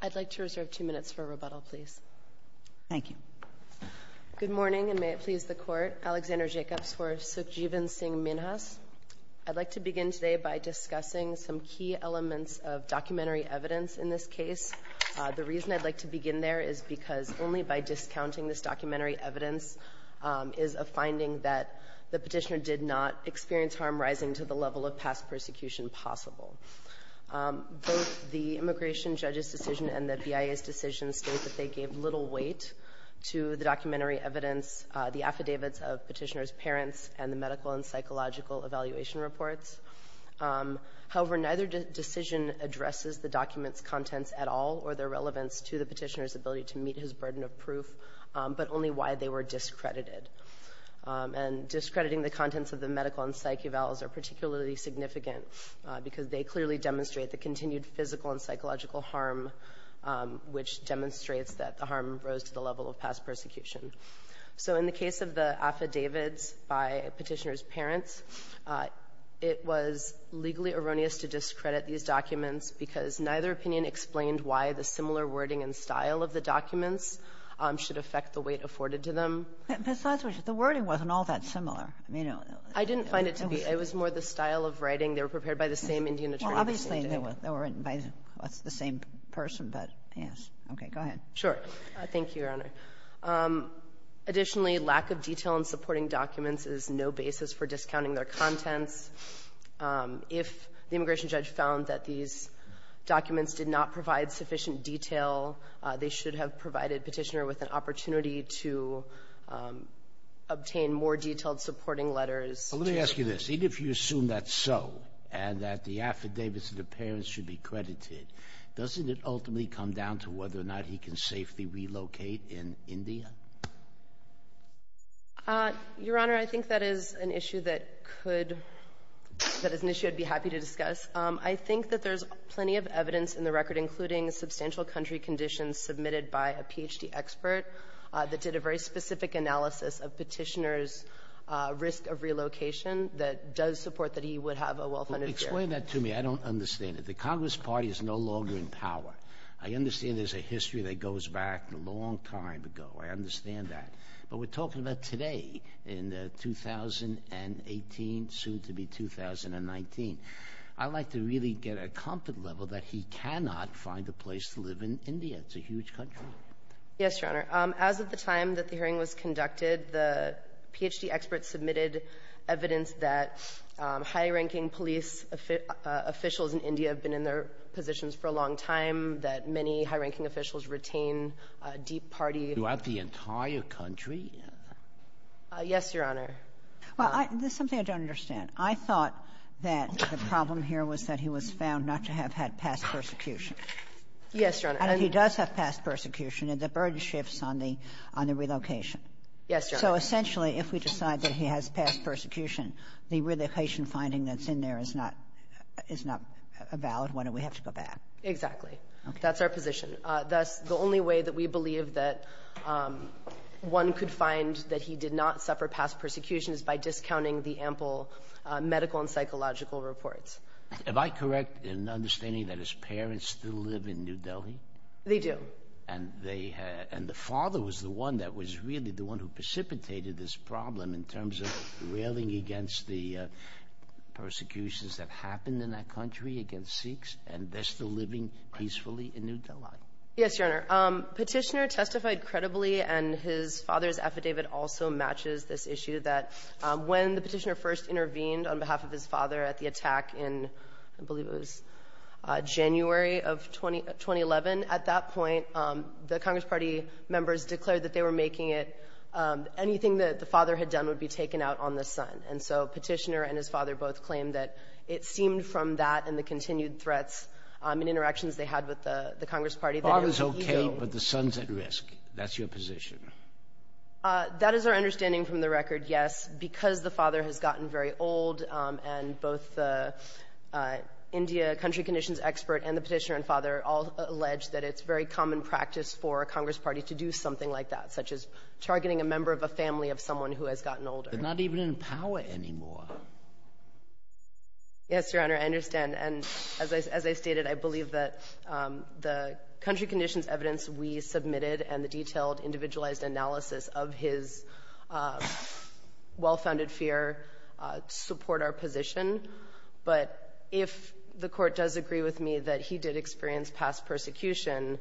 I'd like to reserve two minutes for rebuttal please. Thank you. Good morning and may it please the court. Alexander Jacobs for Sukhjivan Singh Minhas. I'd like to begin today by discussing some key elements of documentary evidence in this case. The reason I'd like to begin there is because only by discounting this documentary evidence is a finding that the petitioner did not experience harm rising to the level of past persecution possible. Both the immigration judge's decision and the BIA's decision state that they gave little weight to the documentary evidence, the affidavits of Petitioner's parents, and the medical and psychological evaluation reports. However, neither decision addresses the document's contents at all or their relevance to the Petitioner's ability to meet his burden of proof, but only why they were discredited. And discrediting the contents of the medical and psyche evals are particularly significant because they clearly demonstrate the continued physical and psychological harm, which demonstrates that the harm rose to the level of past persecution. So in the case of the affidavits by Petitioner's parents, it was legally erroneous to discredit these documents because neither opinion explained why the similar wording and style of the documents should affect the weight afforded to them. Kagan, besides which, the wording wasn't all that similar. I didn't find it to be. It was more the style of writing. They were prepared by the same Indian attorney. Obviously, they were written by the same person, but yes. Okay. Go ahead. Sure. Thank you, Your Honor. Additionally, lack of detail in supporting documents is no basis for discounting their contents. If the immigration judge found that these documents did not provide sufficient detail, they should have provided Petitioner with an opportunity to obtain more detailed supporting letters. But let me ask you this. Even if you assume that's so and that the affidavits of the parents should be credited, doesn't it ultimately come down to whether or not he can safely relocate in India? Your Honor, I think that is an issue that could — that is an issue I'd be happy to discuss. I think that there's plenty of evidence in the record, including substantial country conditions submitted by a Ph.D. expert that did a very specific analysis of Petitioner's risk of relocation that does support that he would have a well-funded career. Explain that to me. I don't understand it. The Congress Party is no longer in power. I understand there's a history that goes back a long time ago. I understand that. But we're talking about today, in the 2018, soon-to-be-2019. I'd like to really get a comfort level that he cannot find a place to live in India. It's a huge country. Yes, Your Honor. As of the time that the hearing was conducted, the Ph.D. expert submitted evidence that high-ranking police officials in India have been in their positions for a long time, that many high-ranking officials retain deep party — Throughout the entire country? Yes, Your Honor. Well, I — this is something I don't understand. I thought that the problem here was that he was found not to have had past persecution. Yes, Your Honor. And if he does have past persecution, then the burden shifts on the — on the relocation. Yes, Your Honor. So essentially, if we decide that he has past persecution, the relocation finding that's in there is not — is not a valid one, and we have to go back. Exactly. That's our position. Thus, the only way that we believe that one could find that he did not suffer past persecution is by discounting the ample medical and psychological reports. Am I correct in understanding that his parents still live in New Delhi? They do. And they — and the father was the one that was really the one who precipitated this problem in terms of railing against the persecutions that happened in that Yes, Your Honor. Petitioner testified credibly, and his father's affidavit also matches this issue, that when the Petitioner first intervened on behalf of his father at the attack in, I believe it was January of 2011, at that point, the Congress Party members declared that they were making it — anything that the father had done would be taken out on the son. And so Petitioner and his father both claimed that it seemed from that and the continued The father's okay, but the son's at risk. That's your position. That is our understanding from the record, yes, because the father has gotten very old, and both the India country conditions expert and the Petitioner and father all allege that it's very common practice for a Congress Party to do something like that, such as targeting a member of a family of someone who has gotten older. They're not even in power anymore. Yes, Your Honor, I understand. And as I — as I stated, I believe that the country conditions evidence we submitted and the detailed, individualized analysis of his well-founded fear support our position. But if the Court does agree with me that he did experience past persecution,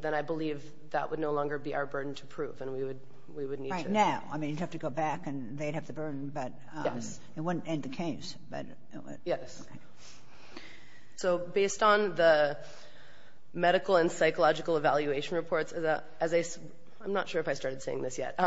then I believe that would no longer be our burden to prove, and we would — we would need to — Right now. I mean, you'd have to go back, and they'd have the burden, but it wouldn't end the case, but it would. Yes. So based on the medical and psychological evaluation reports, as I — I'm not sure if I started saying this yet.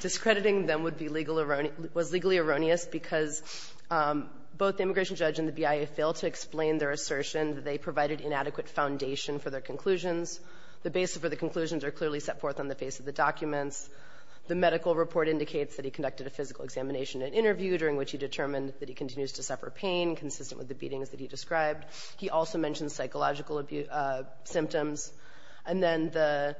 Discrediting them would be legal — was legally erroneous because both the immigration judge and the BIA failed to explain their assertion that they provided inadequate foundation for their conclusions. The basis for the conclusions are clearly set forth on the face of the documents. The medical report indicates that he conducted a physical examination and interview during which he determined that he continues to suffer pain consistent with the beatings that he described. He also mentioned psychological symptoms. And then the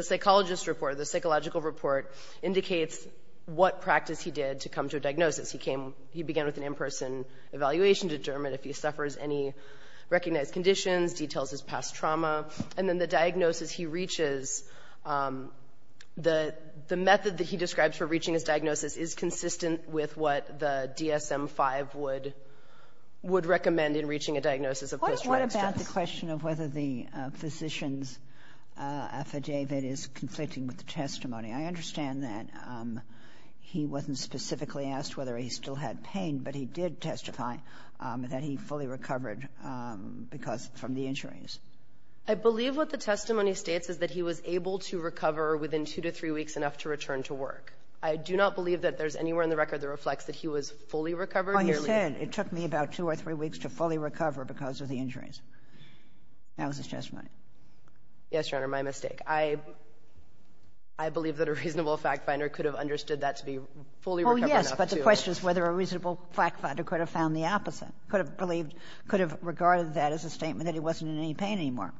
psychologist report — the psychological report indicates what practice he did to come to a diagnosis. He came — he began with an in-person evaluation to determine if he suffers any recognized conditions, details his past trauma. And then the diagnosis he reaches, the method that he describes for reaching his diagnosis is consistent with what the DSM-5 would — would recommend in reaching a diagnosis of post-traumatic stress. What about the question of whether the physician's affidavit is conflicting with the testimony? I understand that he wasn't specifically asked whether he still had pain, but he did testify that he fully recovered because — from the injuries. I believe what the testimony states is that he was able to recover within two to three weeks enough to return to work. I do not believe that there's anywhere in the record that reflects that he was fully recovered. Oh, you said it took me about two or three weeks to fully recover because of the injuries. That was his testimony. Yes, Your Honor. My mistake. I — I believe that a reasonable fact-finder could have understood that to be fully recovered enough to — Oh, yes, but the question is whether a reasonable fact-finder could have found the opposite, could have believed — could have regarded that as a statement that he wasn't in any pain anymore.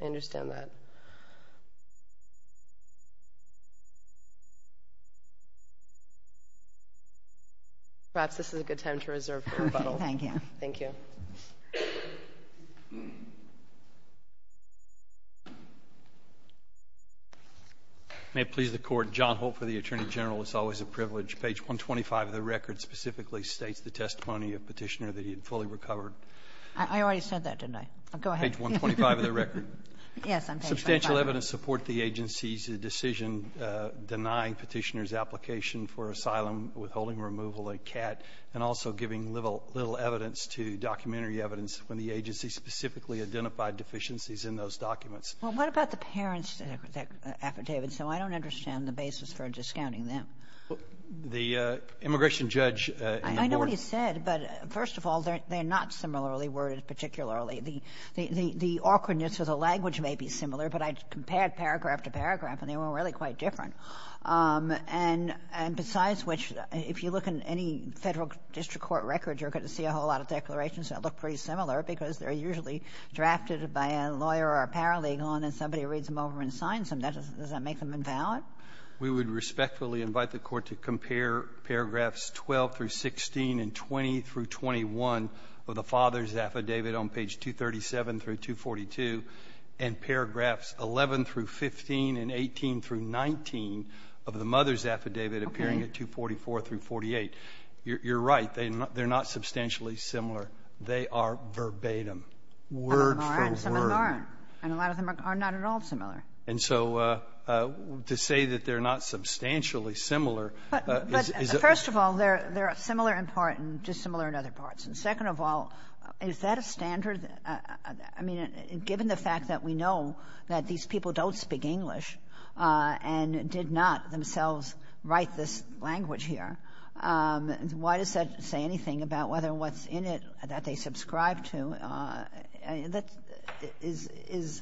I understand that. Perhaps this is a good time to reserve for rebuttal. Thank you. Thank you. May it please the Court. John Holt for the Attorney General. It's always a privilege. Page 125 of the record specifically states the testimony of Petitioner that he had fully recovered. I already said that, didn't I? Go ahead. Page 125 of the record. Yes, on page 125. Substantial evidence support the agency's decision denying Petitioner's application for asylum, withholding removal, a cat, and also giving little — little evidence to documentary evidence when the agency specifically identified deficiencies in those documents. Well, what about the parents' affidavits? So I don't understand the basis for discounting them. The immigration judge in the ward — I know what he said. But first of all, they're not similarly worded particularly. The awkwardness of the language may be similar, but I compared paragraph to paragraph and they were really quite different. And besides which, if you look in any Federal district court record, you're going to see a whole lot of declarations that look pretty similar because they're usually drafted by a lawyer or a paralegal, and then somebody reads them over and signs them. Does that make them invalid? We would respectfully invite the Court to compare paragraphs 12 through 16 and 20 through 21 of the father's affidavit on page 237 through 242 and paragraphs 11 through 15 and 18 through 19 of the mother's affidavit appearing at 244 through 48. You're right. They're not substantially similar. They are verbatim. Word for word. And a lot of them are not at all similar. And so to say that they're not substantially similar is a — But first of all, they're similar in part and dissimilar in other parts. And second of all, is that a standard? I mean, given the fact that we know that these people don't speak English and did not themselves write this language here, why does that say anything about whether what's in it that they subscribe to? That is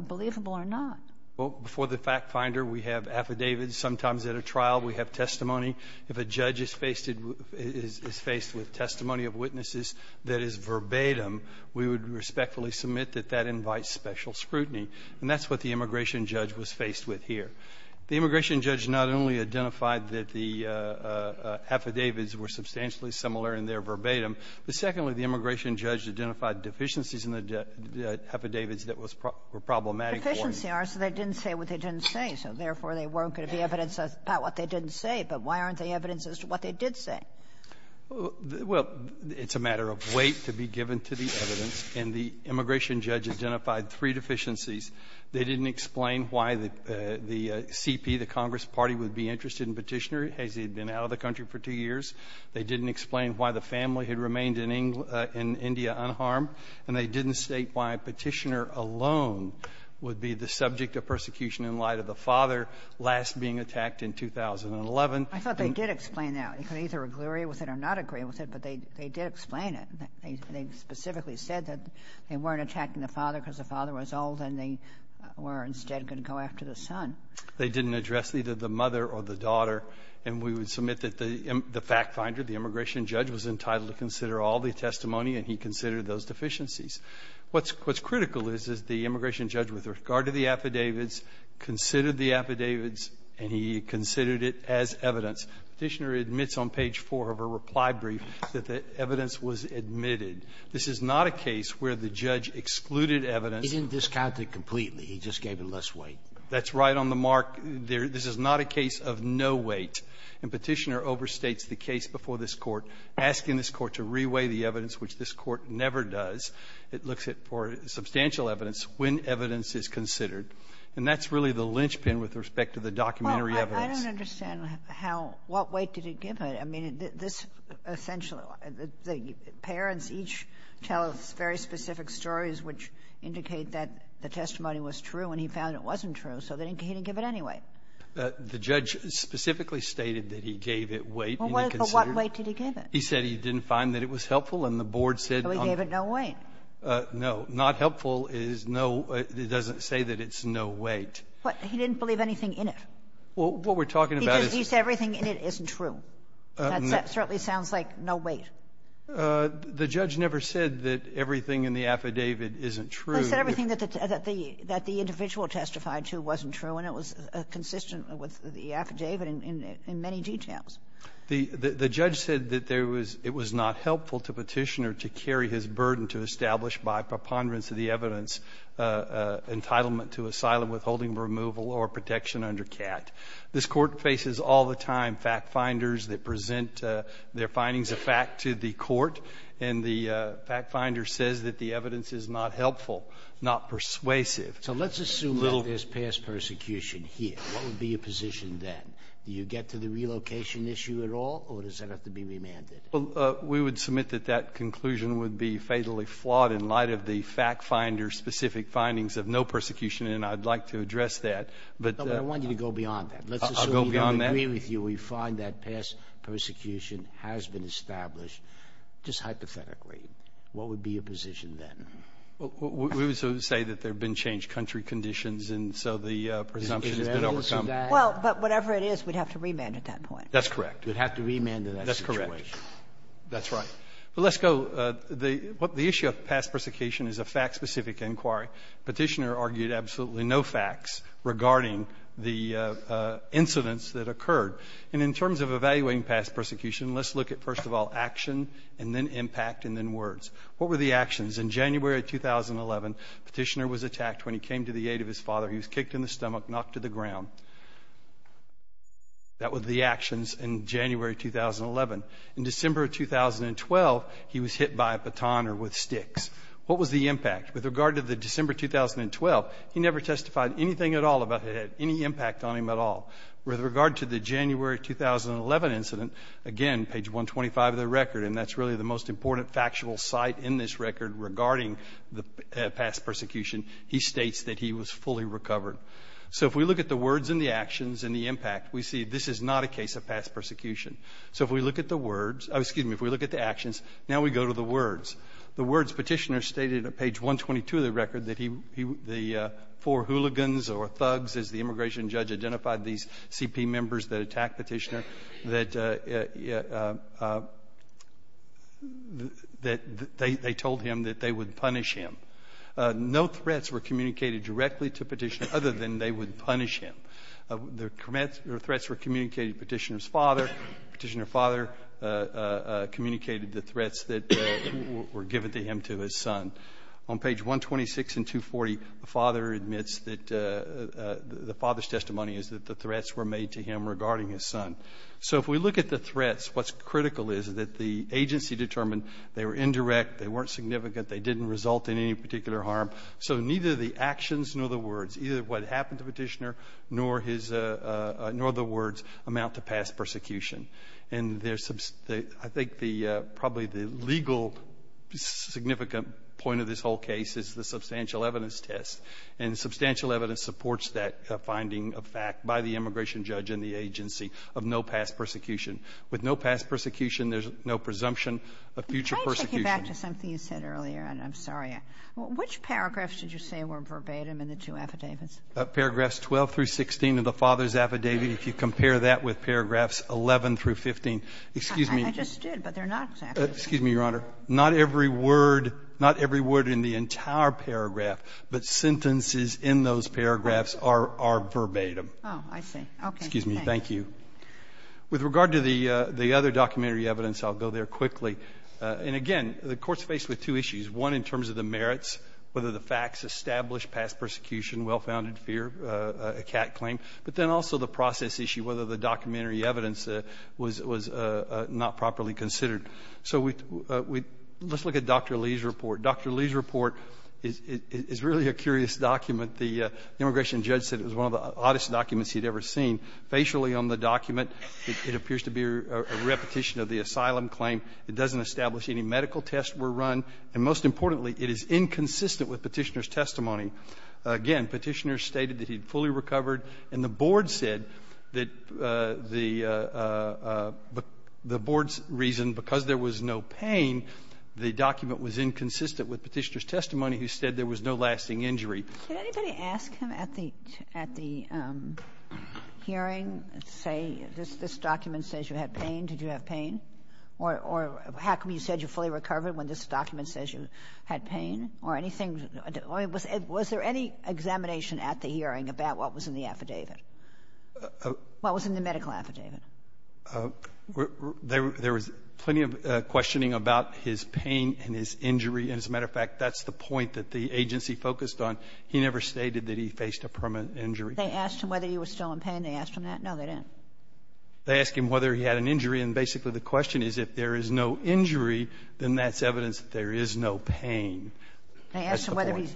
believable or not. Well, before the FactFinder, we have affidavits. Sometimes at a trial, we have testimony. If a judge is faced with testimony of witnesses that is verbatim, we would respectfully submit that that invites special scrutiny. And that's what the immigration judge was faced with here. The immigration judge not only identified that the affidavits were substantially similar in their verbatim, but secondly, the immigration judge identified deficiencies in the affidavits that were problematic for him. So they didn't say what they didn't say. So therefore, there weren't going to be evidence about what they didn't say. But why aren't there evidences as to what they did say? Well, it's a matter of weight to be given to the evidence. And the immigration judge identified three deficiencies. They didn't explain why the CP, the Congress party, would be interested in Petitioner as he had been out of the country for two years. They didn't explain why the family had remained in India unharmed. And they didn't state why Petitioner alone would be the subject of persecution in light of the father last being attacked in 2011. I thought they did explain that. You can either agree with it or not agree with it, but they did explain it. They specifically said that they weren't attacking the father because the father was old and they were instead going to go after the son. They didn't address either the mother or the daughter. And we would submit that the fact finder, the immigration judge, was entitled to consider all the testimony and he considered those deficiencies. What's critical is, is the immigration judge, with regard to the affidavits, considered the affidavits and he considered it as evidence. Petitioner admits on page 4 of her reply brief that the evidence was admitted. This is not a case where the judge excluded evidence. He didn't discount it completely. He just gave it less weight. That's right on the mark. This is not a case of no weight. And Petitioner overstates the case before this Court, asking this Court to reweigh the evidence, which this Court never does. It looks at for substantial evidence when evidence is considered. And that's really the linchpin with respect to the documentary evidence. Well, I don't understand how what weight did he give it. I mean, this essentially, the parents each tell us very specific stories which indicate that the testimony was true and he found it wasn't true, so he didn't give it anyway. The judge specifically stated that he gave it weight. Well, what weight did he give it? He said he didn't find that it was helpful and the board said on the board. So he gave it no weight. No. Not helpful is no — doesn't say that it's no weight. But he didn't believe anything in it. Well, what we're talking about is — He said everything in it isn't true. That certainly sounds like no weight. The judge never said that everything in the affidavit isn't true. He said everything that the individual testified to wasn't true, and it was consistent with the affidavit in many details. The judge said that there was — it was not helpful to Petitioner to carry his burden to establish, by preponderance of the evidence, entitlement to asylum, withholding removal, or protection under CAT. This Court faces all the time fact-finders that present their findings of fact to the So let's assume that there's past persecution here. What would be your position then? Do you get to the relocation issue at all, or does that have to be remanded? Well, we would submit that that conclusion would be fatally flawed in light of the fact-finders' specific findings of no persecution, and I'd like to address that. But the — No, but I want you to go beyond that. Let's assume — I'll go beyond that. I agree with you. We find that past persecution has been established. Just hypothetically, what would be your position then? We would say that there have been changed country conditions, and so the presumption has been overcome. Well, but whatever it is, we'd have to remand at that point. That's correct. We'd have to remand in that situation. That's correct. That's right. But let's go — the issue of past persecution is a fact-specific inquiry. Petitioner argued absolutely no facts regarding the incidents that occurred. And in terms of evaluating past persecution, let's look at, first of all, action and then impact and then words. What were the actions? In January 2011, Petitioner was attacked when he came to the aid of his father. He was kicked in the stomach, knocked to the ground. That was the actions in January 2011. In December 2012, he was hit by a baton or with sticks. What was the impact? With regard to the December 2012, he never testified anything at all about it had any impact on him at all. With regard to the January 2011 incident, again, page 125 of the record, and that's really the most important factual site in this record regarding the past persecution, he states that he was fully recovered. So if we look at the words and the actions and the impact, we see this is not a case of past persecution. So if we look at the words — excuse me, if we look at the actions, now we go to the words. The words Petitioner stated at page 122 of the record that he — the four hooligans or thugs, as the immigration judge identified these CP members that attacked Petitioner, that they told him that they would punish him. No threats were communicated directly to Petitioner other than they would punish him. Their threats were communicated to Petitioner's father. Petitioner's father communicated the threats that were given to him to his son. On page 126 and 240, the father admits that — the father's testimony is that the threats were made to him regarding his son. So if we look at the threats, what's critical is that the agency determined they were indirect, they weren't significant, they didn't result in any particular harm. So neither the actions nor the words, either what happened to Petitioner nor his — nor the words amount to past persecution. And there's — I think the — probably the legal significant point of this whole case is the substantial evidence test. by the immigration judge and the agency of no past persecution. With no past persecution, there's no presumption of future persecution. Kagan, I'd like to get back to something you said earlier, and I'm sorry. Which paragraphs did you say were verbatim in the two affidavits? Paragraphs 12 through 16 of the father's affidavit, if you compare that with paragraphs 11 through 15. Excuse me. I just did, but they're not exactly the same. Excuse me, Your Honor. Not every word — not every word in the entire paragraph, but sentences in those paragraphs are verbatim. Oh, I see. Okay. Excuse me. Thank you. With regard to the other documentary evidence, I'll go there quickly. And again, the Court's faced with two issues, one in terms of the merits, whether the facts establish past persecution, well-founded fear, a cat claim, but then also the process issue, whether the documentary evidence was not properly considered. So we — let's look at Dr. Lee's report. Dr. Lee's report is really a curious document. The immigration judge said it was one of the oddest documents he'd ever seen. Facially on the document, it appears to be a repetition of the asylum claim. It doesn't establish any medical tests were run. And most importantly, it is inconsistent with Petitioner's testimony. Again, Petitioner stated that he had fully recovered, and the board said that the board's reason, because there was no pain, the document was inconsistent with Petitioner's testimony, who said there was no lasting injury. Kagan. Can anybody ask him at the — at the hearing, say, this document says you had pain? Did you have pain? Or how come you said you fully recovered when this document says you had pain, or anything? Was there any examination at the hearing about what was in the affidavit, what was in the medical affidavit? And as a matter of fact, that's the point that the agency focused on. He never stated that he faced a permanent injury. They asked him whether he was still in pain. They asked him that? No, they didn't. They asked him whether he had an injury. And basically, the question is, if there is no injury, then that's evidence that there is no pain. That's the point. They asked him whether he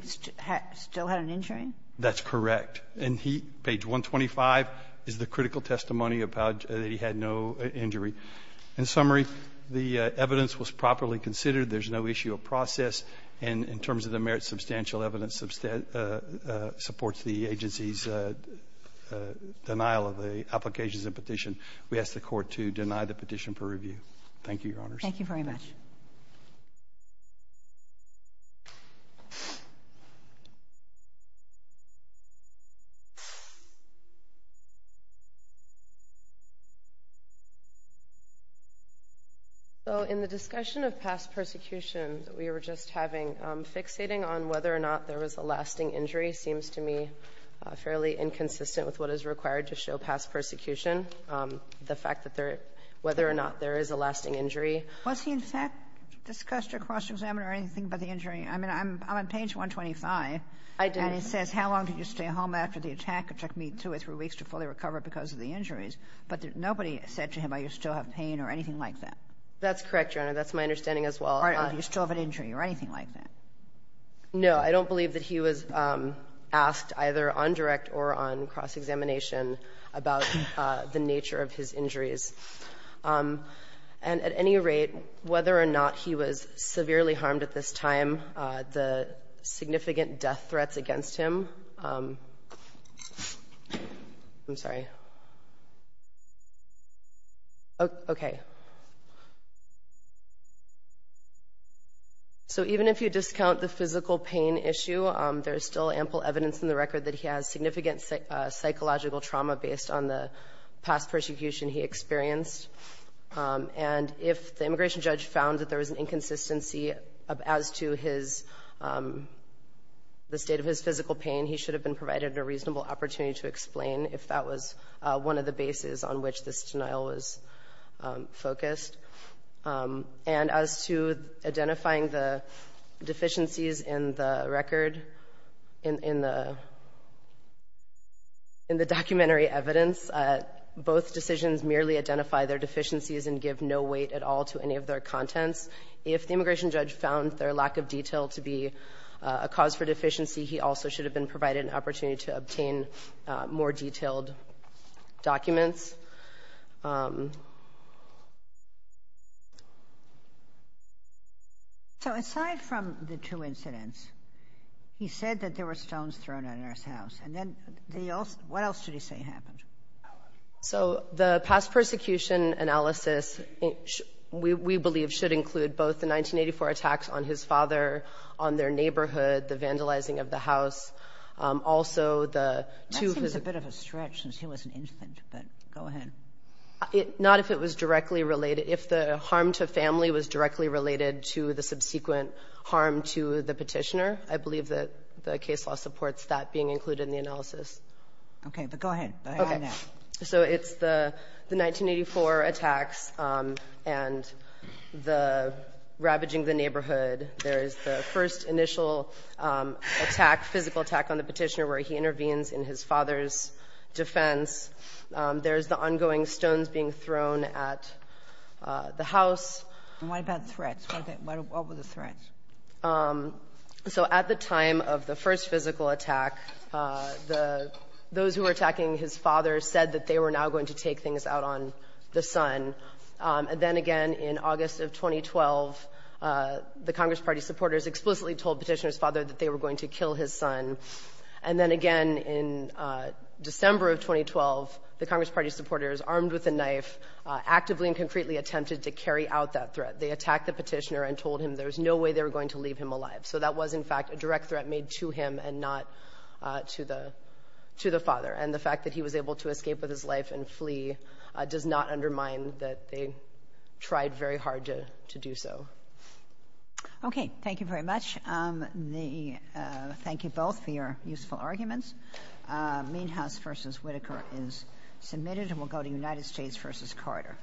still had an injury? That's correct. And he — page 125 is the critical testimony about that he had no injury. In summary, the evidence was properly considered. There's no issue of process. And in terms of the merits, substantial evidence supports the agency's denial of the applications and petition. We ask the Court to deny the petition for review. Thank you, Your Honors. Thank you very much. So in the discussion of past persecution that we were just having, fixating on whether or not there was a lasting injury seems to me fairly inconsistent with what is required to show past persecution, the fact that there — whether or not there is a lasting injury. Was he, in fact, discussed or cross-examined or anything about the injury? I mean, I'm — I'm on page 125. I didn't. And it says, how long did you stay home after the attack? It took me two or three weeks to fully recover because of the injuries. But nobody said to him, are you still in pain or anything like that? That's correct, Your Honor. That's my understanding as well. Or do you still have an injury or anything like that? No. I don't believe that he was asked either on direct or on cross-examination about the nature of his injuries. And at any rate, whether or not he was severely harmed at this time, the significant death threats against him — I'm sorry. If you count the physical pain issue, there is still ample evidence in the record that he has significant psychological trauma based on the past persecution he experienced. And if the immigration judge found that there was an inconsistency as to his — the state of his physical pain, he should have been provided a reasonable opportunity to explain if that was one of the bases on which this denial was focused. And as to identifying the deficiencies in the record, in the — in the documentary evidence, both decisions merely identify their deficiencies and give no weight at all to any of their contents. If the immigration judge found their lack of detail to be a cause for deficiency, he also should have been provided an opportunity to obtain more detailed documents. So, aside from the two incidents, he said that there were stones thrown at his house. And then the — what else should he say happened? So, the past persecution analysis, we believe, should include both the 1984 attacks on his father, on their neighborhood, the vandalizing of the house, also the two — It's a bit of a stretch since he was an infant, but go ahead. Not if it was directly related. If the harm to family was directly related to the subsequent harm to the petitioner, I believe that the case law supports that being included in the analysis. Okay. But go ahead. Go ahead now. Okay. So, it's the 1984 attacks and the ravaging of the neighborhood. There is the first initial attack, physical attack, on the petitioner where he intervenes in his father's defense. There is the ongoing stones being thrown at the house. And what about threats? What were the threats? So, at the time of the first physical attack, the — those who were attacking his father said that they were now going to take things out on the son. And then again, in August of 2012, the Congress Party supporters explicitly told Petitioner's father that they were going to kill his son. And then again, in December of 2012, the Congress Party supporters, armed with a knife, actively and concretely attempted to carry out that threat. They attacked the petitioner and told him there was no way they were going to leave him alive. So that was, in fact, a direct threat made to him and not to the — to the father. And the fact that he was able to escape with his life and flee does not undermine that they tried very hard to do so. Okay. Thank you very much. The — thank you both for your useful arguments. Meanhouse v. Whitaker is submitted, and we'll go to United States v. Carter.